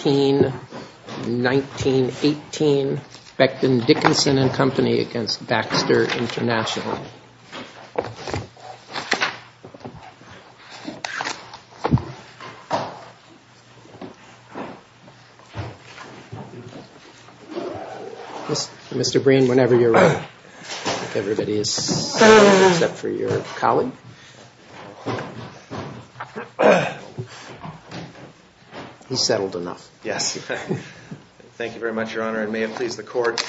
Mr. Breen, whenever you're ready, if everybody is settled, except for your colleague, he's settled enough. Yes. Thank you very much, Your Honor. It may have pleased the court.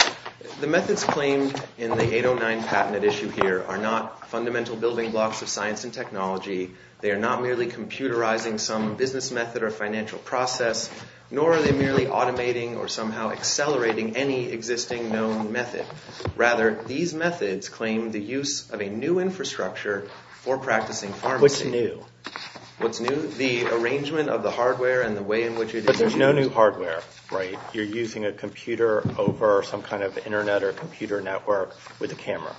The methods claimed in the 809 patent at issue here are not fundamental building blocks of science and technology. They are not merely computerizing some business method or financial process, nor are they merely automating or somehow accelerating any existing known method. Rather, these methods claim the use of a new infrastructure for practicing pharmacy. What's new? What's new? The arrangement of the hardware and the way in which it is used. But there's no new hardware, right? You're using a computer over some kind of Internet or computer network with a camera.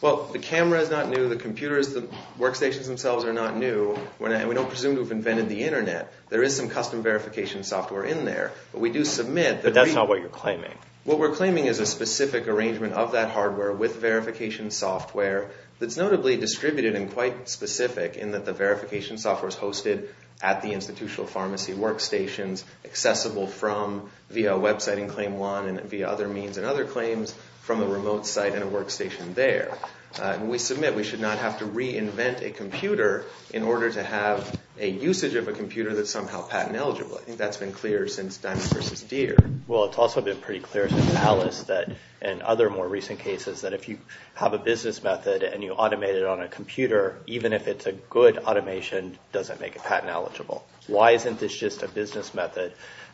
Well, the camera is not new. The computers, the workstations themselves are not new. And we don't presume to have invented the Internet. There is some custom verification software in there. But we do submit that… But that's not what you're claiming. What we're claiming is a specific arrangement of that hardware with verification software that's notably distributed and quite specific in that the verification software is hosted at the institutional pharmacy workstations. Accessible from via a website in claim one and via other means and other claims from a remote site and a workstation there. And we submit we should not have to reinvent a computer in order to have a usage of a computer that's somehow patent eligible. I think that's been clear since Diamond versus Deere. Well, it's also been pretty clear since Alice that and other more recent cases that if you have a business method and you automate it on a computer, even if it's a good automation, doesn't make it patent eligible. Why isn't this just a business method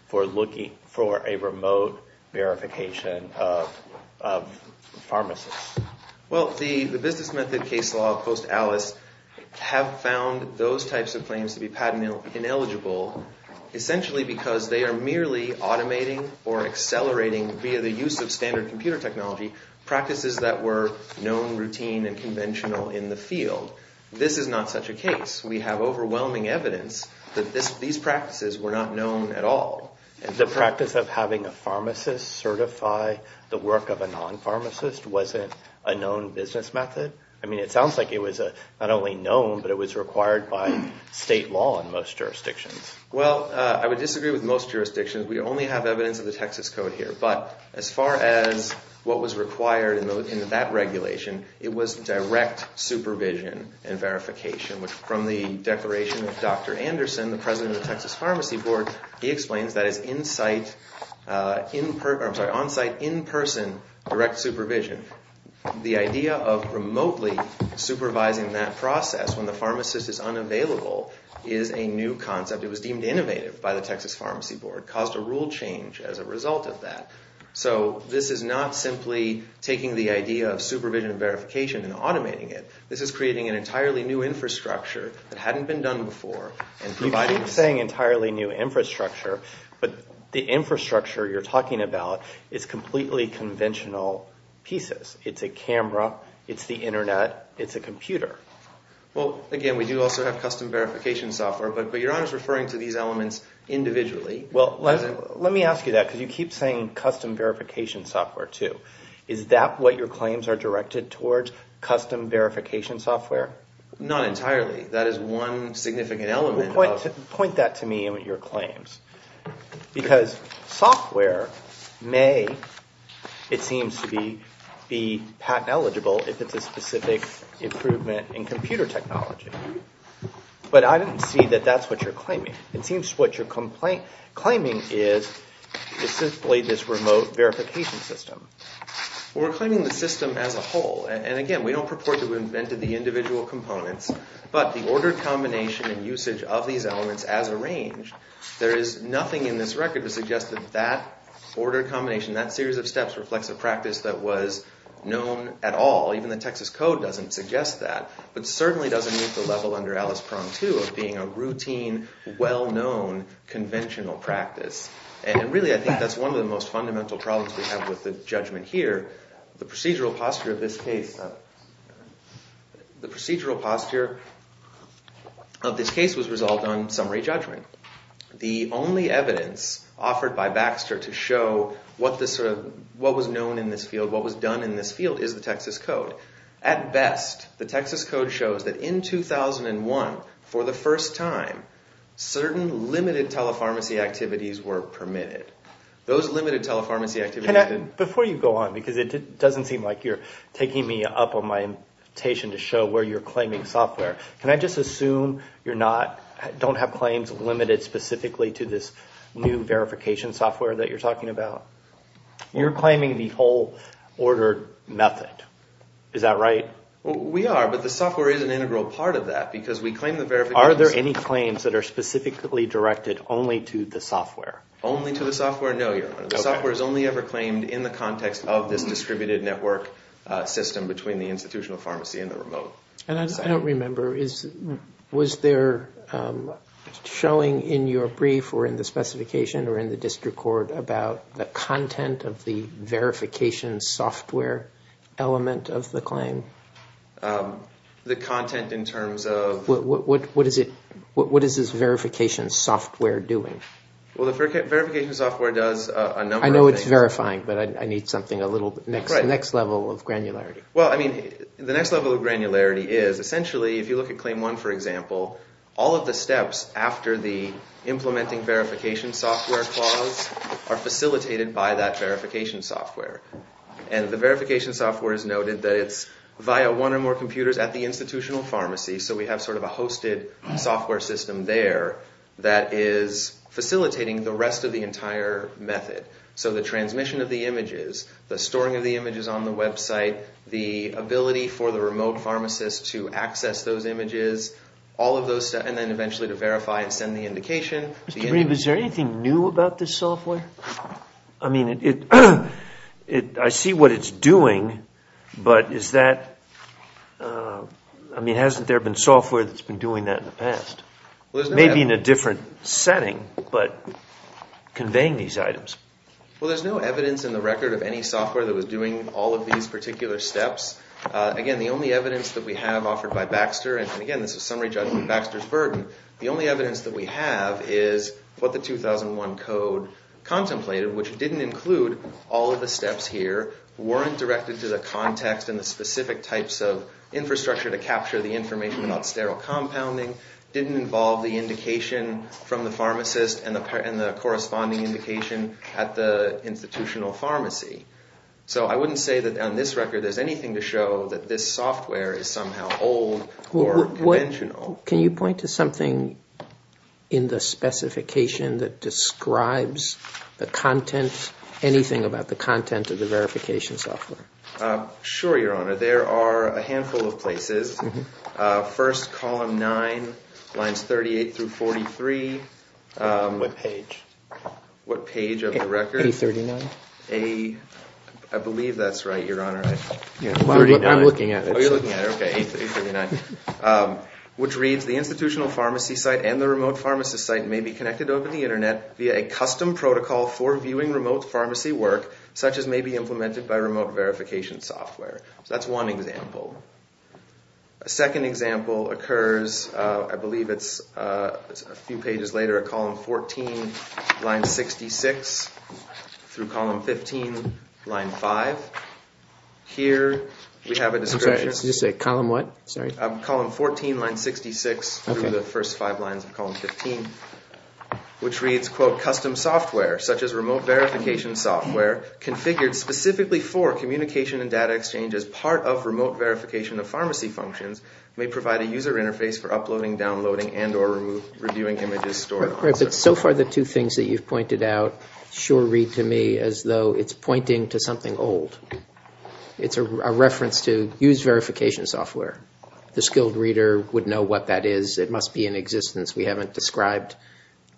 for looking for a remote verification of pharmacists? Well, the business method case law post-Alice have found those types of claims to be patent ineligible essentially because they are merely automating or accelerating via the use of standard computer technology practices that were known, routine, and conventional in the field. This is not such a case. We have overwhelming evidence that these practices were not known at all. The practice of having a pharmacist certify the work of a non-pharmacist wasn't a known business method? I mean, it sounds like it was not only known, but it was required by state law in most jurisdictions. Well, I would disagree with most jurisdictions. We only have evidence of the Texas Code here. But as far as what was required in that regulation, it was direct supervision and verification, which from the declaration of Dr. Anderson, the president of the Texas Pharmacy Board, he explains that is onsite, in-person, direct supervision. The idea of remotely supervising that process when the pharmacist is unavailable is a new concept. It was deemed innovative by the Texas Pharmacy Board. It caused a rule change as a result of that. So this is not simply taking the idea of supervision and verification and automating it. This is creating an entirely new infrastructure that hadn't been done before and providing— You keep saying entirely new infrastructure, but the infrastructure you're talking about is completely conventional pieces. It's a camera. It's the internet. It's a computer. Well, again, we do also have custom verification software, but Your Honor is referring to these elements individually. Well, let me ask you that because you keep saying custom verification software too. Is that what your claims are directed towards, custom verification software? Not entirely. That is one significant element. Point that to me in your claims because software may, it seems to be, be patent eligible if it's a specific improvement in computer technology. It seems what you're claiming is simply this remote verification system. We're claiming the system as a whole, and again, we don't purport to have invented the individual components, but the order combination and usage of these elements as arranged, there is nothing in this record to suggest that that order combination, that series of steps reflects a practice that was known at all. Even the Texas Code doesn't suggest that, but certainly doesn't meet the level under Alice Prong, too, of being a routine, well-known, conventional practice. And really, I think that's one of the most fundamental problems we have with the judgment here. The procedural posture of this case, the procedural posture of this case was resolved on summary judgment. The only evidence offered by Baxter to show what was known in this field, what was done in this field, is the Texas Code. At best, the Texas Code shows that in 2001, for the first time, certain limited telepharmacy activities were permitted. Those limited telepharmacy activities— Before you go on, because it doesn't seem like you're taking me up on my invitation to show where you're claiming software, can I just assume you don't have claims limited specifically to this new verification software that you're talking about? You're claiming the whole ordered method. Is that right? We are, but the software is an integral part of that, because we claim the verification— Are there any claims that are specifically directed only to the software? Only to the software? No, Your Honor. The software is only ever claimed in the context of this distributed network system between the institutional pharmacy and the remote. I don't remember. Was there showing in your brief or in the specification or in the district court about the content of the verification software element of the claim? The content in terms of— What is this verification software doing? Well, the verification software does a number of things. I know it's verifying, but I need something a little—the next level of granularity. Well, I mean, the next level of granularity is, essentially, if you look at Claim 1, for example, all of the steps after the implementing verification software clause are facilitated by that verification software. And the verification software is noted that it's via one or more computers at the institutional pharmacy, so we have sort of a hosted software system there that is facilitating the rest of the entire method. So the transmission of the images, the storing of the images on the website, the ability for the remote pharmacist to access those images, all of those stuff, and then eventually to verify and send the indication. Mr. Green, is there anything new about this software? I mean, I see what it's doing, but is that—I mean, hasn't there been software that's been doing that in the past? Maybe in a different setting, but conveying these items. Well, there's no evidence in the record of any software that was doing all of these particular steps. Again, the only evidence that we have offered by Baxter—and again, this is summary judgment, Baxter's burden— the only evidence that we have is what the 2001 code contemplated, which didn't include all of the steps here, weren't directed to the context and the specific types of infrastructure to capture the information about sterile compounding, didn't involve the indication from the pharmacist and the corresponding indication at the institutional pharmacy. So I wouldn't say that on this record there's anything to show that this software is somehow old or conventional. Can you point to something in the specification that describes the content, anything about the content of the verification software? Sure, Your Honor. There are a handful of places. First, column 9, lines 38 through 43. What page? What page of the record? 839. I believe that's right, Your Honor. I'm looking at it. Oh, you're looking at it. Okay, 839, which reads, The institutional pharmacy site and the remote pharmacist site may be connected over the Internet via a custom protocol for viewing remote pharmacy work, such as may be implemented by remote verification software. So that's one example. A second example occurs, I believe it's a few pages later, at column 14, line 66 through column 15, line 5. Here we have a description. Did you say column what? Sorry? Column 14, line 66 through the first five lines of column 15, which reads, Custom software, such as remote verification software, configured specifically for communication and data exchange as part of remote verification of pharmacy functions, may provide a user interface for uploading, downloading, and or reviewing images stored on the site. So far the two things that you've pointed out sure read to me as though it's pointing to something old. It's a reference to used verification software. The skilled reader would know what that is. It must be in existence. We haven't described,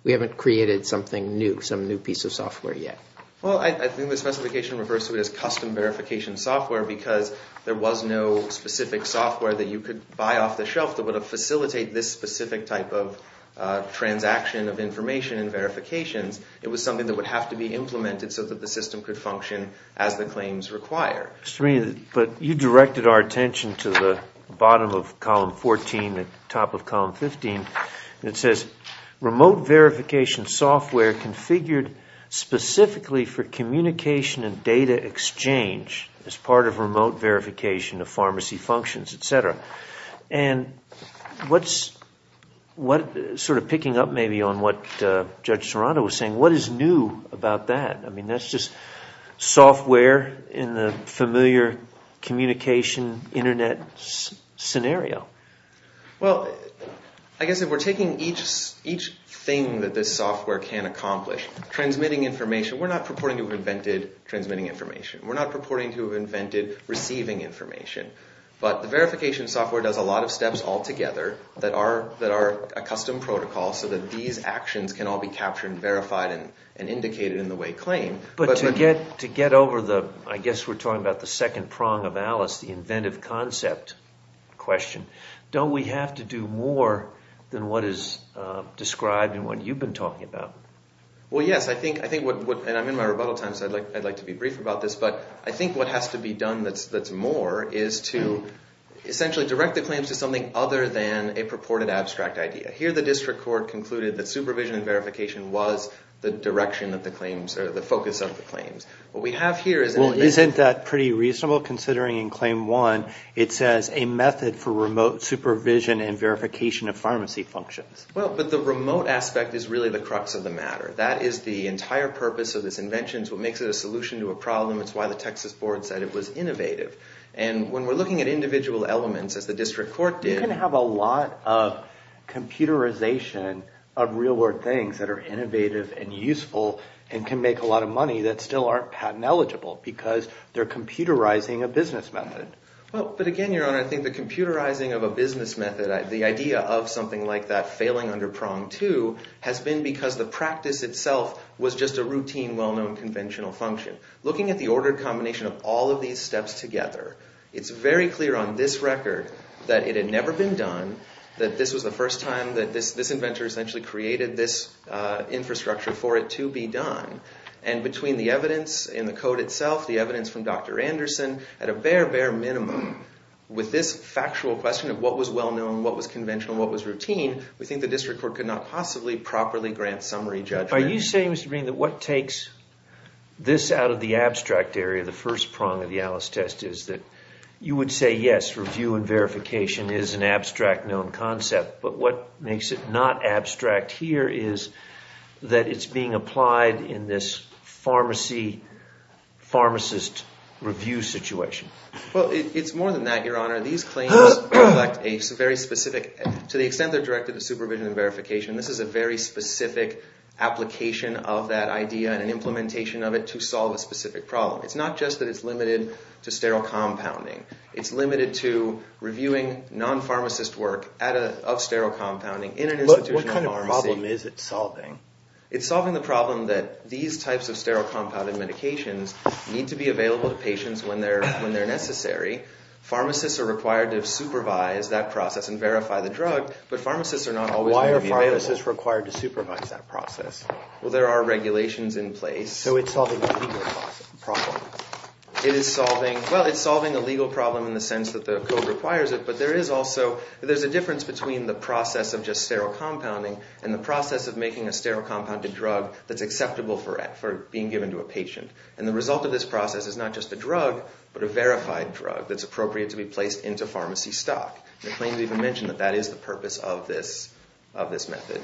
we haven't created something new, some new piece of software yet. Well, I think the specification refers to it as custom verification software because there was no specific software that you could buy off the shelf that would facilitate this specific type of transaction of information and verifications. It was something that would have to be implemented so that the system could function as the claims require. But you directed our attention to the bottom of column 14, the top of column 15. It says remote verification software configured specifically for communication and data exchange as part of remote verification of pharmacy functions, etc. And sort of picking up maybe on what Judge Serrano was saying, what is new about that? I mean, that's just software in the familiar communication Internet scenario. Well, I guess if we're taking each thing that this software can accomplish, transmitting information, we're not purporting to have invented transmitting information. We're not purporting to have invented receiving information. But the verification software does a lot of steps all together that are a custom protocol so that these actions can all be captured and verified and indicated in the way claimed. But to get over the, I guess we're talking about the second prong of Alice, the inventive concept question, don't we have to do more than what is described and what you've been talking about? Well, yes. I think what, and I'm in my rebuttal time, so I'd like to be brief about this, but I think what has to be done that's more is to essentially direct the claims to something other than a purported abstract idea. Here the district court concluded that supervision and verification was the direction of the claims or the focus of the claims. Well, isn't that pretty reasonable considering in Claim 1 it says a method for remote supervision and verification of pharmacy functions? Well, but the remote aspect is really the crux of the matter. That is the entire purpose of this invention. It's what makes it a solution to a problem. It's why the Texas board said it was innovative. And when we're looking at individual elements, as the district court did- You can have a lot of computerization of real world things that are innovative and useful and can make a lot of money that still aren't patent eligible because they're computerizing a business method. Well, but again, Your Honor, I think the computerizing of a business method, the idea of something like that failing under Prong 2, has been because the practice itself was just a routine, well-known, conventional function. Looking at the ordered combination of all of these steps together, it's very clear on this record that it had never been done, that this was the first time that this inventor essentially created this infrastructure for it to be done. And between the evidence in the code itself, the evidence from Dr. Anderson, at a bare, bare minimum, with this factual question of what was well-known, what was conventional, what was routine, we think the district court could not possibly properly grant summary judgment. Are you saying, Mr. Green, that what takes this out of the abstract area, the first prong of the Alice test, is that you would say, yes, review and verification is an abstract, known concept. But what makes it not abstract here is that it's being applied in this pharmacy, pharmacist review situation. Well, it's more than that, Your Honor. These claims reflect a very specific, to the extent they're directed to supervision and verification, this is a very specific application of that idea and an implementation of it to solve a specific problem. It's not just that it's limited to sterile compounding. It's limited to reviewing non-pharmacist work of sterile compounding in an institutional pharmacy. What kind of problem is it solving? It's solving the problem that these types of sterile compounded medications need to be available to patients when they're necessary. Pharmacists are required to supervise that process and verify the drug, but pharmacists are not always going to be available. Why are pharmacists required to supervise that process? Well, there are regulations in place. So it's solving a legal problem. It is solving, well, it's solving a legal problem in the sense that the code requires it, but there is also, there's a difference between the process of just sterile compounding and the process of making a sterile compounded drug that's acceptable for being given to a patient. And the result of this process is not just a drug, but a verified drug that's appropriate to be placed into pharmacy stock. The claims even mention that that is the purpose of this method.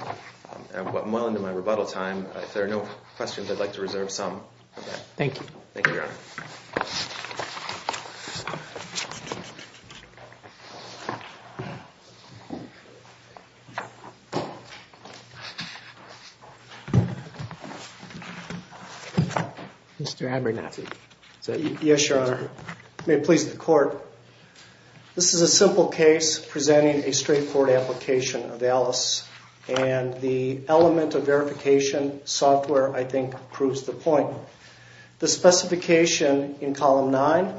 I'm well into my rebuttal time. If there are no questions, I'd like to reserve some of that. Thank you. Thank you, Your Honor. Mr. Abernathy. Yes, Your Honor. May it please the court. This is a simple case presenting a straightforward application of ALICE, and the element of verification software, I think, proves the point. The specification in column nine,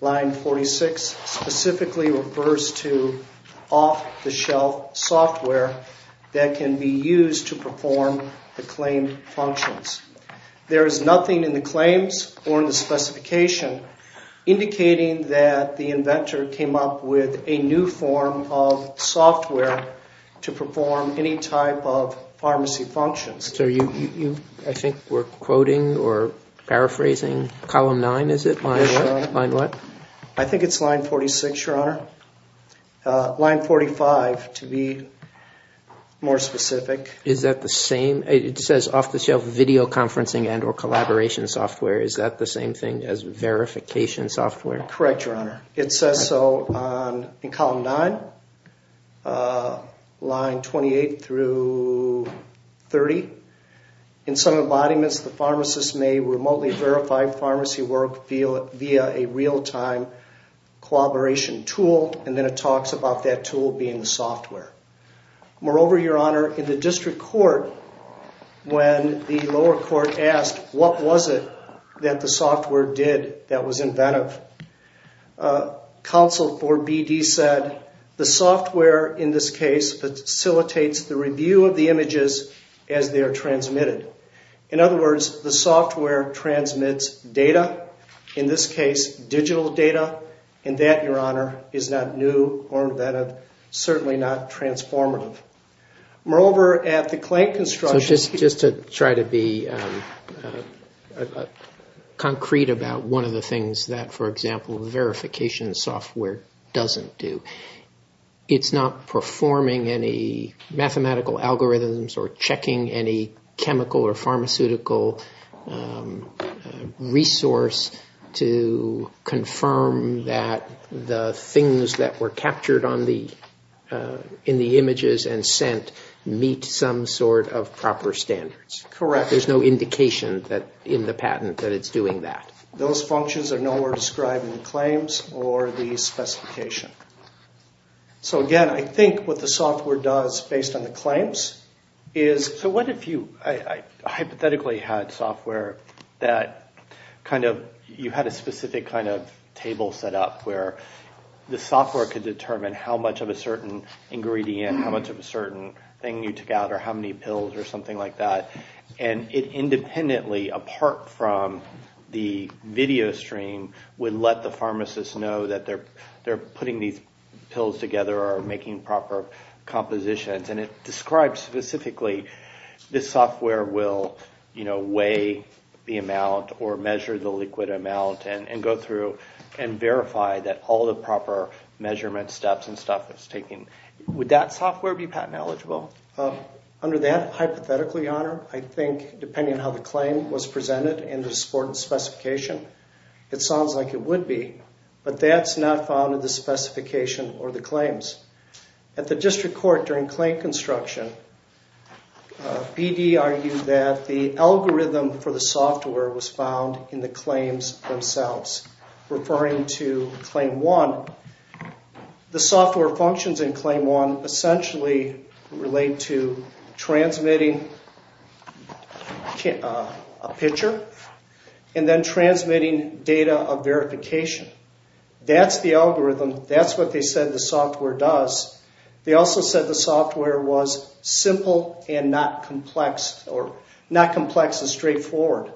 line 46, specifically refers to off-the-shelf software that can be used to perform the claimed functions. There is nothing in the claims or in the specification indicating that the inventor came up with a new form of software to perform any type of pharmacy functions. So you, I think, were quoting or paraphrasing column nine, is it? Yes, Your Honor. Line what? I think it's line 46, Your Honor. Line 45, to be more specific. Is that the same? It says off-the-shelf video conferencing and or collaboration software. Is that the same thing as verification software? Correct, Your Honor. It says so in column nine, line 28 through 30. In some embodiments, the pharmacist may remotely verify pharmacy work via a real-time collaboration tool, and then it talks about that tool being the software. Moreover, Your Honor, in the district court, when the lower court asked what was it that the software did that was inventive, counsel for BD said, the software in this case facilitates the review of the images as they are transmitted. In other words, the software transmits data, in this case, digital data, and that, Your Honor, is not new or inventive, certainly not transformative. Moreover, at the claim construction. So just to try to be concrete about one of the things that, for example, verification software doesn't do. It's not performing any mathematical algorithms or checking any chemical or pharmaceutical resource to confirm that the things that were captured in the images and sent meet some sort of proper standards. Correct. There's no indication in the patent that it's doing that. Those functions are nowhere described in the claims or the specification. So again, I think what the software does, based on the claims, is... So what if you hypothetically had software that kind of, you had a specific kind of table set up where the software could determine how much of a certain ingredient, how much of a certain thing you took out, or how many pills or something like that, and it independently, apart from the video stream, would let the pharmacist know that they're putting these pills together or making proper compositions, and it describes specifically this software will weigh the amount or measure the liquid amount and go through and verify that all the proper measurement steps and stuff is taken. Would that software be patent eligible? Under that hypothetically, Your Honor, I think, depending on how the claim was presented and the supported specification, it sounds like it would be, but that's not found in the specification or the claims. At the district court during claim construction, BD argued that the algorithm for the software was found in the claims themselves. Referring to Claim 1, the software functions in Claim 1 essentially relate to transmitting a picture and then transmitting data of verification. That's the algorithm. That's what they said the software does. They also said the software was simple and not complex, or not complex and straightforward.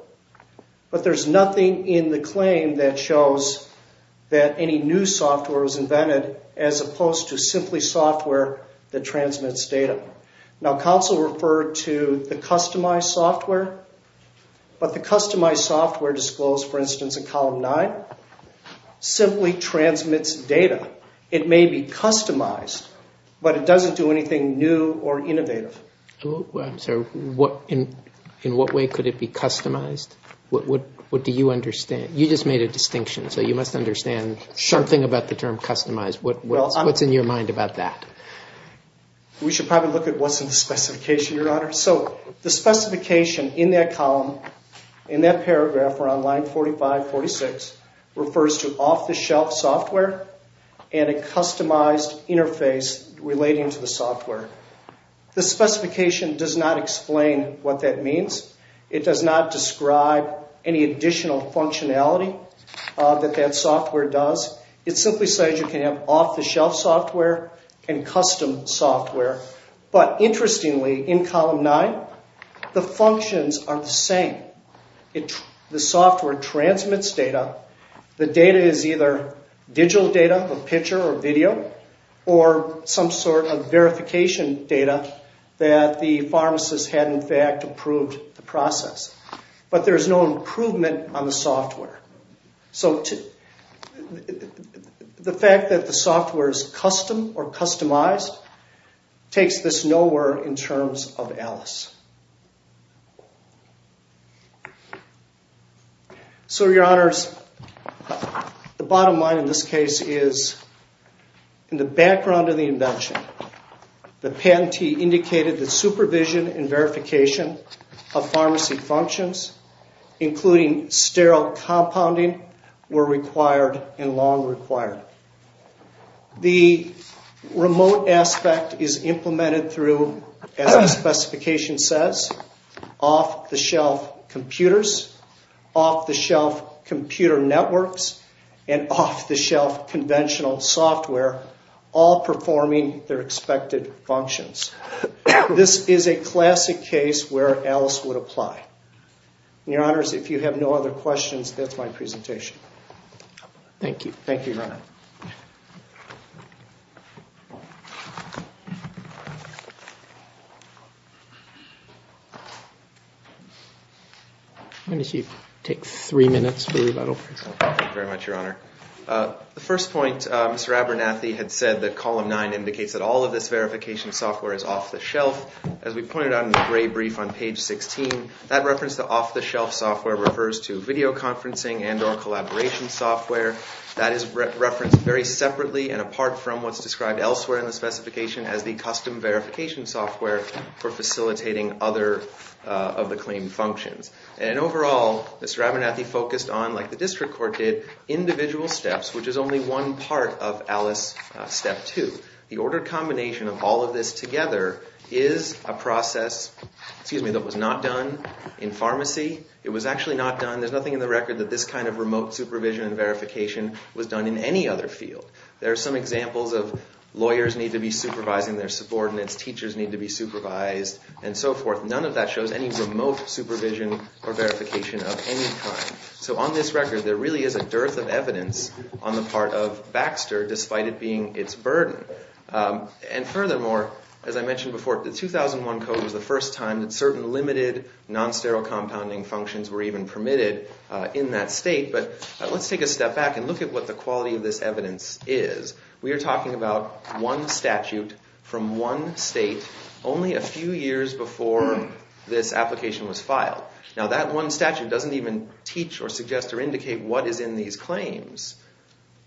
But there's nothing in the claim that shows that any new software was invented as opposed to simply software that transmits data. Now, counsel referred to the customized software, but the customized software disclosed, for instance, in Column 9, simply transmits data. It may be customized, but it doesn't do anything new or innovative. In what way could it be customized? What do you understand? You just made a distinction, so you must understand something about the term customized. What's in your mind about that? We should probably look at what's in the specification, Your Honor. The specification in that column, in that paragraph around line 45, 46, refers to off-the-shelf software and a customized interface relating to the software. The specification does not explain what that means. It does not describe any additional functionality that that software does. It simply says you can have off-the-shelf software and custom software. But interestingly, in Column 9, the functions are the same. The software transmits data. The data is either digital data, a picture or video, or some sort of verification data that the pharmacist had, in fact, approved the process. But there's no improvement on the software. So the fact that the software is custom or customized takes this nowhere in terms of ALICE. So, Your Honors, the bottom line in this case is in the background of the invention, the patentee indicated that supervision and verification of pharmacy functions, including sterile compounding, were required and long required. The remote aspect is implemented through, as the specification says, off-the-shelf computers, off-the-shelf computer networks, and off-the-shelf conventional software, all performing their expected functions. This is a classic case where ALICE would apply. And, Your Honors, if you have no other questions, that's my presentation. Thank you. Thank you, Your Honor. Why don't you take three minutes for rebuttal. Thank you very much, Your Honor. The first point, Mr. Abernathy had said that Column 9 indicates that all of this verification software is off-the-shelf. As we pointed out in the gray brief on page 16, that reference to off-the-shelf software refers to videoconferencing and or collaboration software. That is referenced very separately and apart from what's described elsewhere in the specification as the custom verification software for facilitating other of the claimed functions. And overall, Mr. Abernathy focused on, like the district court did, individual steps, which is only one part of ALICE Step 2. The ordered combination of all of this together is a process that was not done in pharmacy. It was actually not done. There's nothing in the record that this kind of remote supervision and verification was done in any other field. There are some examples of lawyers need to be supervising their subordinates, teachers need to be supervised, and so forth. None of that shows any remote supervision or verification of any kind. So on this record, there really is a dearth of evidence on the part of Baxter, despite it being its burden. And furthermore, as I mentioned before, the 2001 code was the first time that certain limited non-sterile compounding functions were even permitted in that state. But let's take a step back and look at what the quality of this evidence is. We are talking about one statute from one state only a few years before this application was filed. Now, that one statute doesn't even teach or suggest or indicate what is in these claims.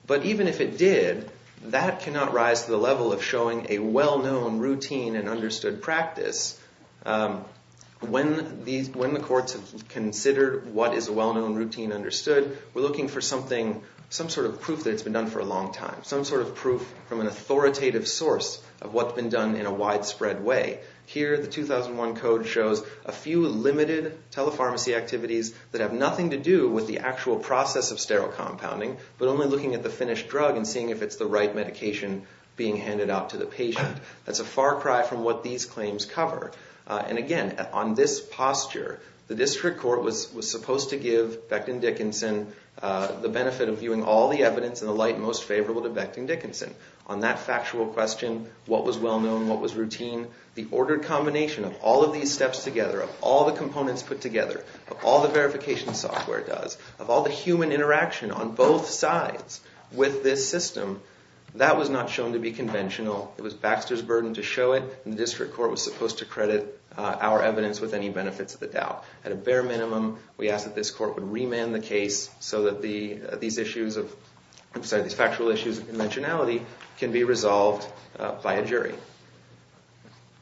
But even if it did, that cannot rise to the level of showing a well-known routine and understood practice. When the courts have considered what is a well-known routine and understood, we're looking for something, some sort of proof that it's been done for a long time, some sort of proof from an authoritative source of what's been done in a widespread way. Here, the 2001 code shows a few limited telepharmacy activities that have nothing to do with the actual process of sterile compounding, but only looking at the finished drug and seeing if it's the right medication being handed out to the patient. That's a far cry from what these claims cover. And again, on this posture, the district court was supposed to give Becton Dickinson the benefit of viewing all the evidence in the light most favorable to Becton Dickinson. On that factual question, what was well-known, what was routine, the ordered combination of all of these steps together, of all the components put together, of all the verification software does, of all the human interaction on both sides with this system, that was not shown to be conventional. It was Baxter's burden to show it, and the district court was supposed to credit our evidence with any benefits of the doubt. So that these factual issues of conventionality can be resolved by a jury.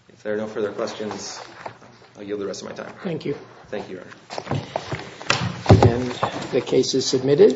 If there are no further questions, I'll yield the rest of my time. Thank you. Thank you, Your Honor. And the case is submitted.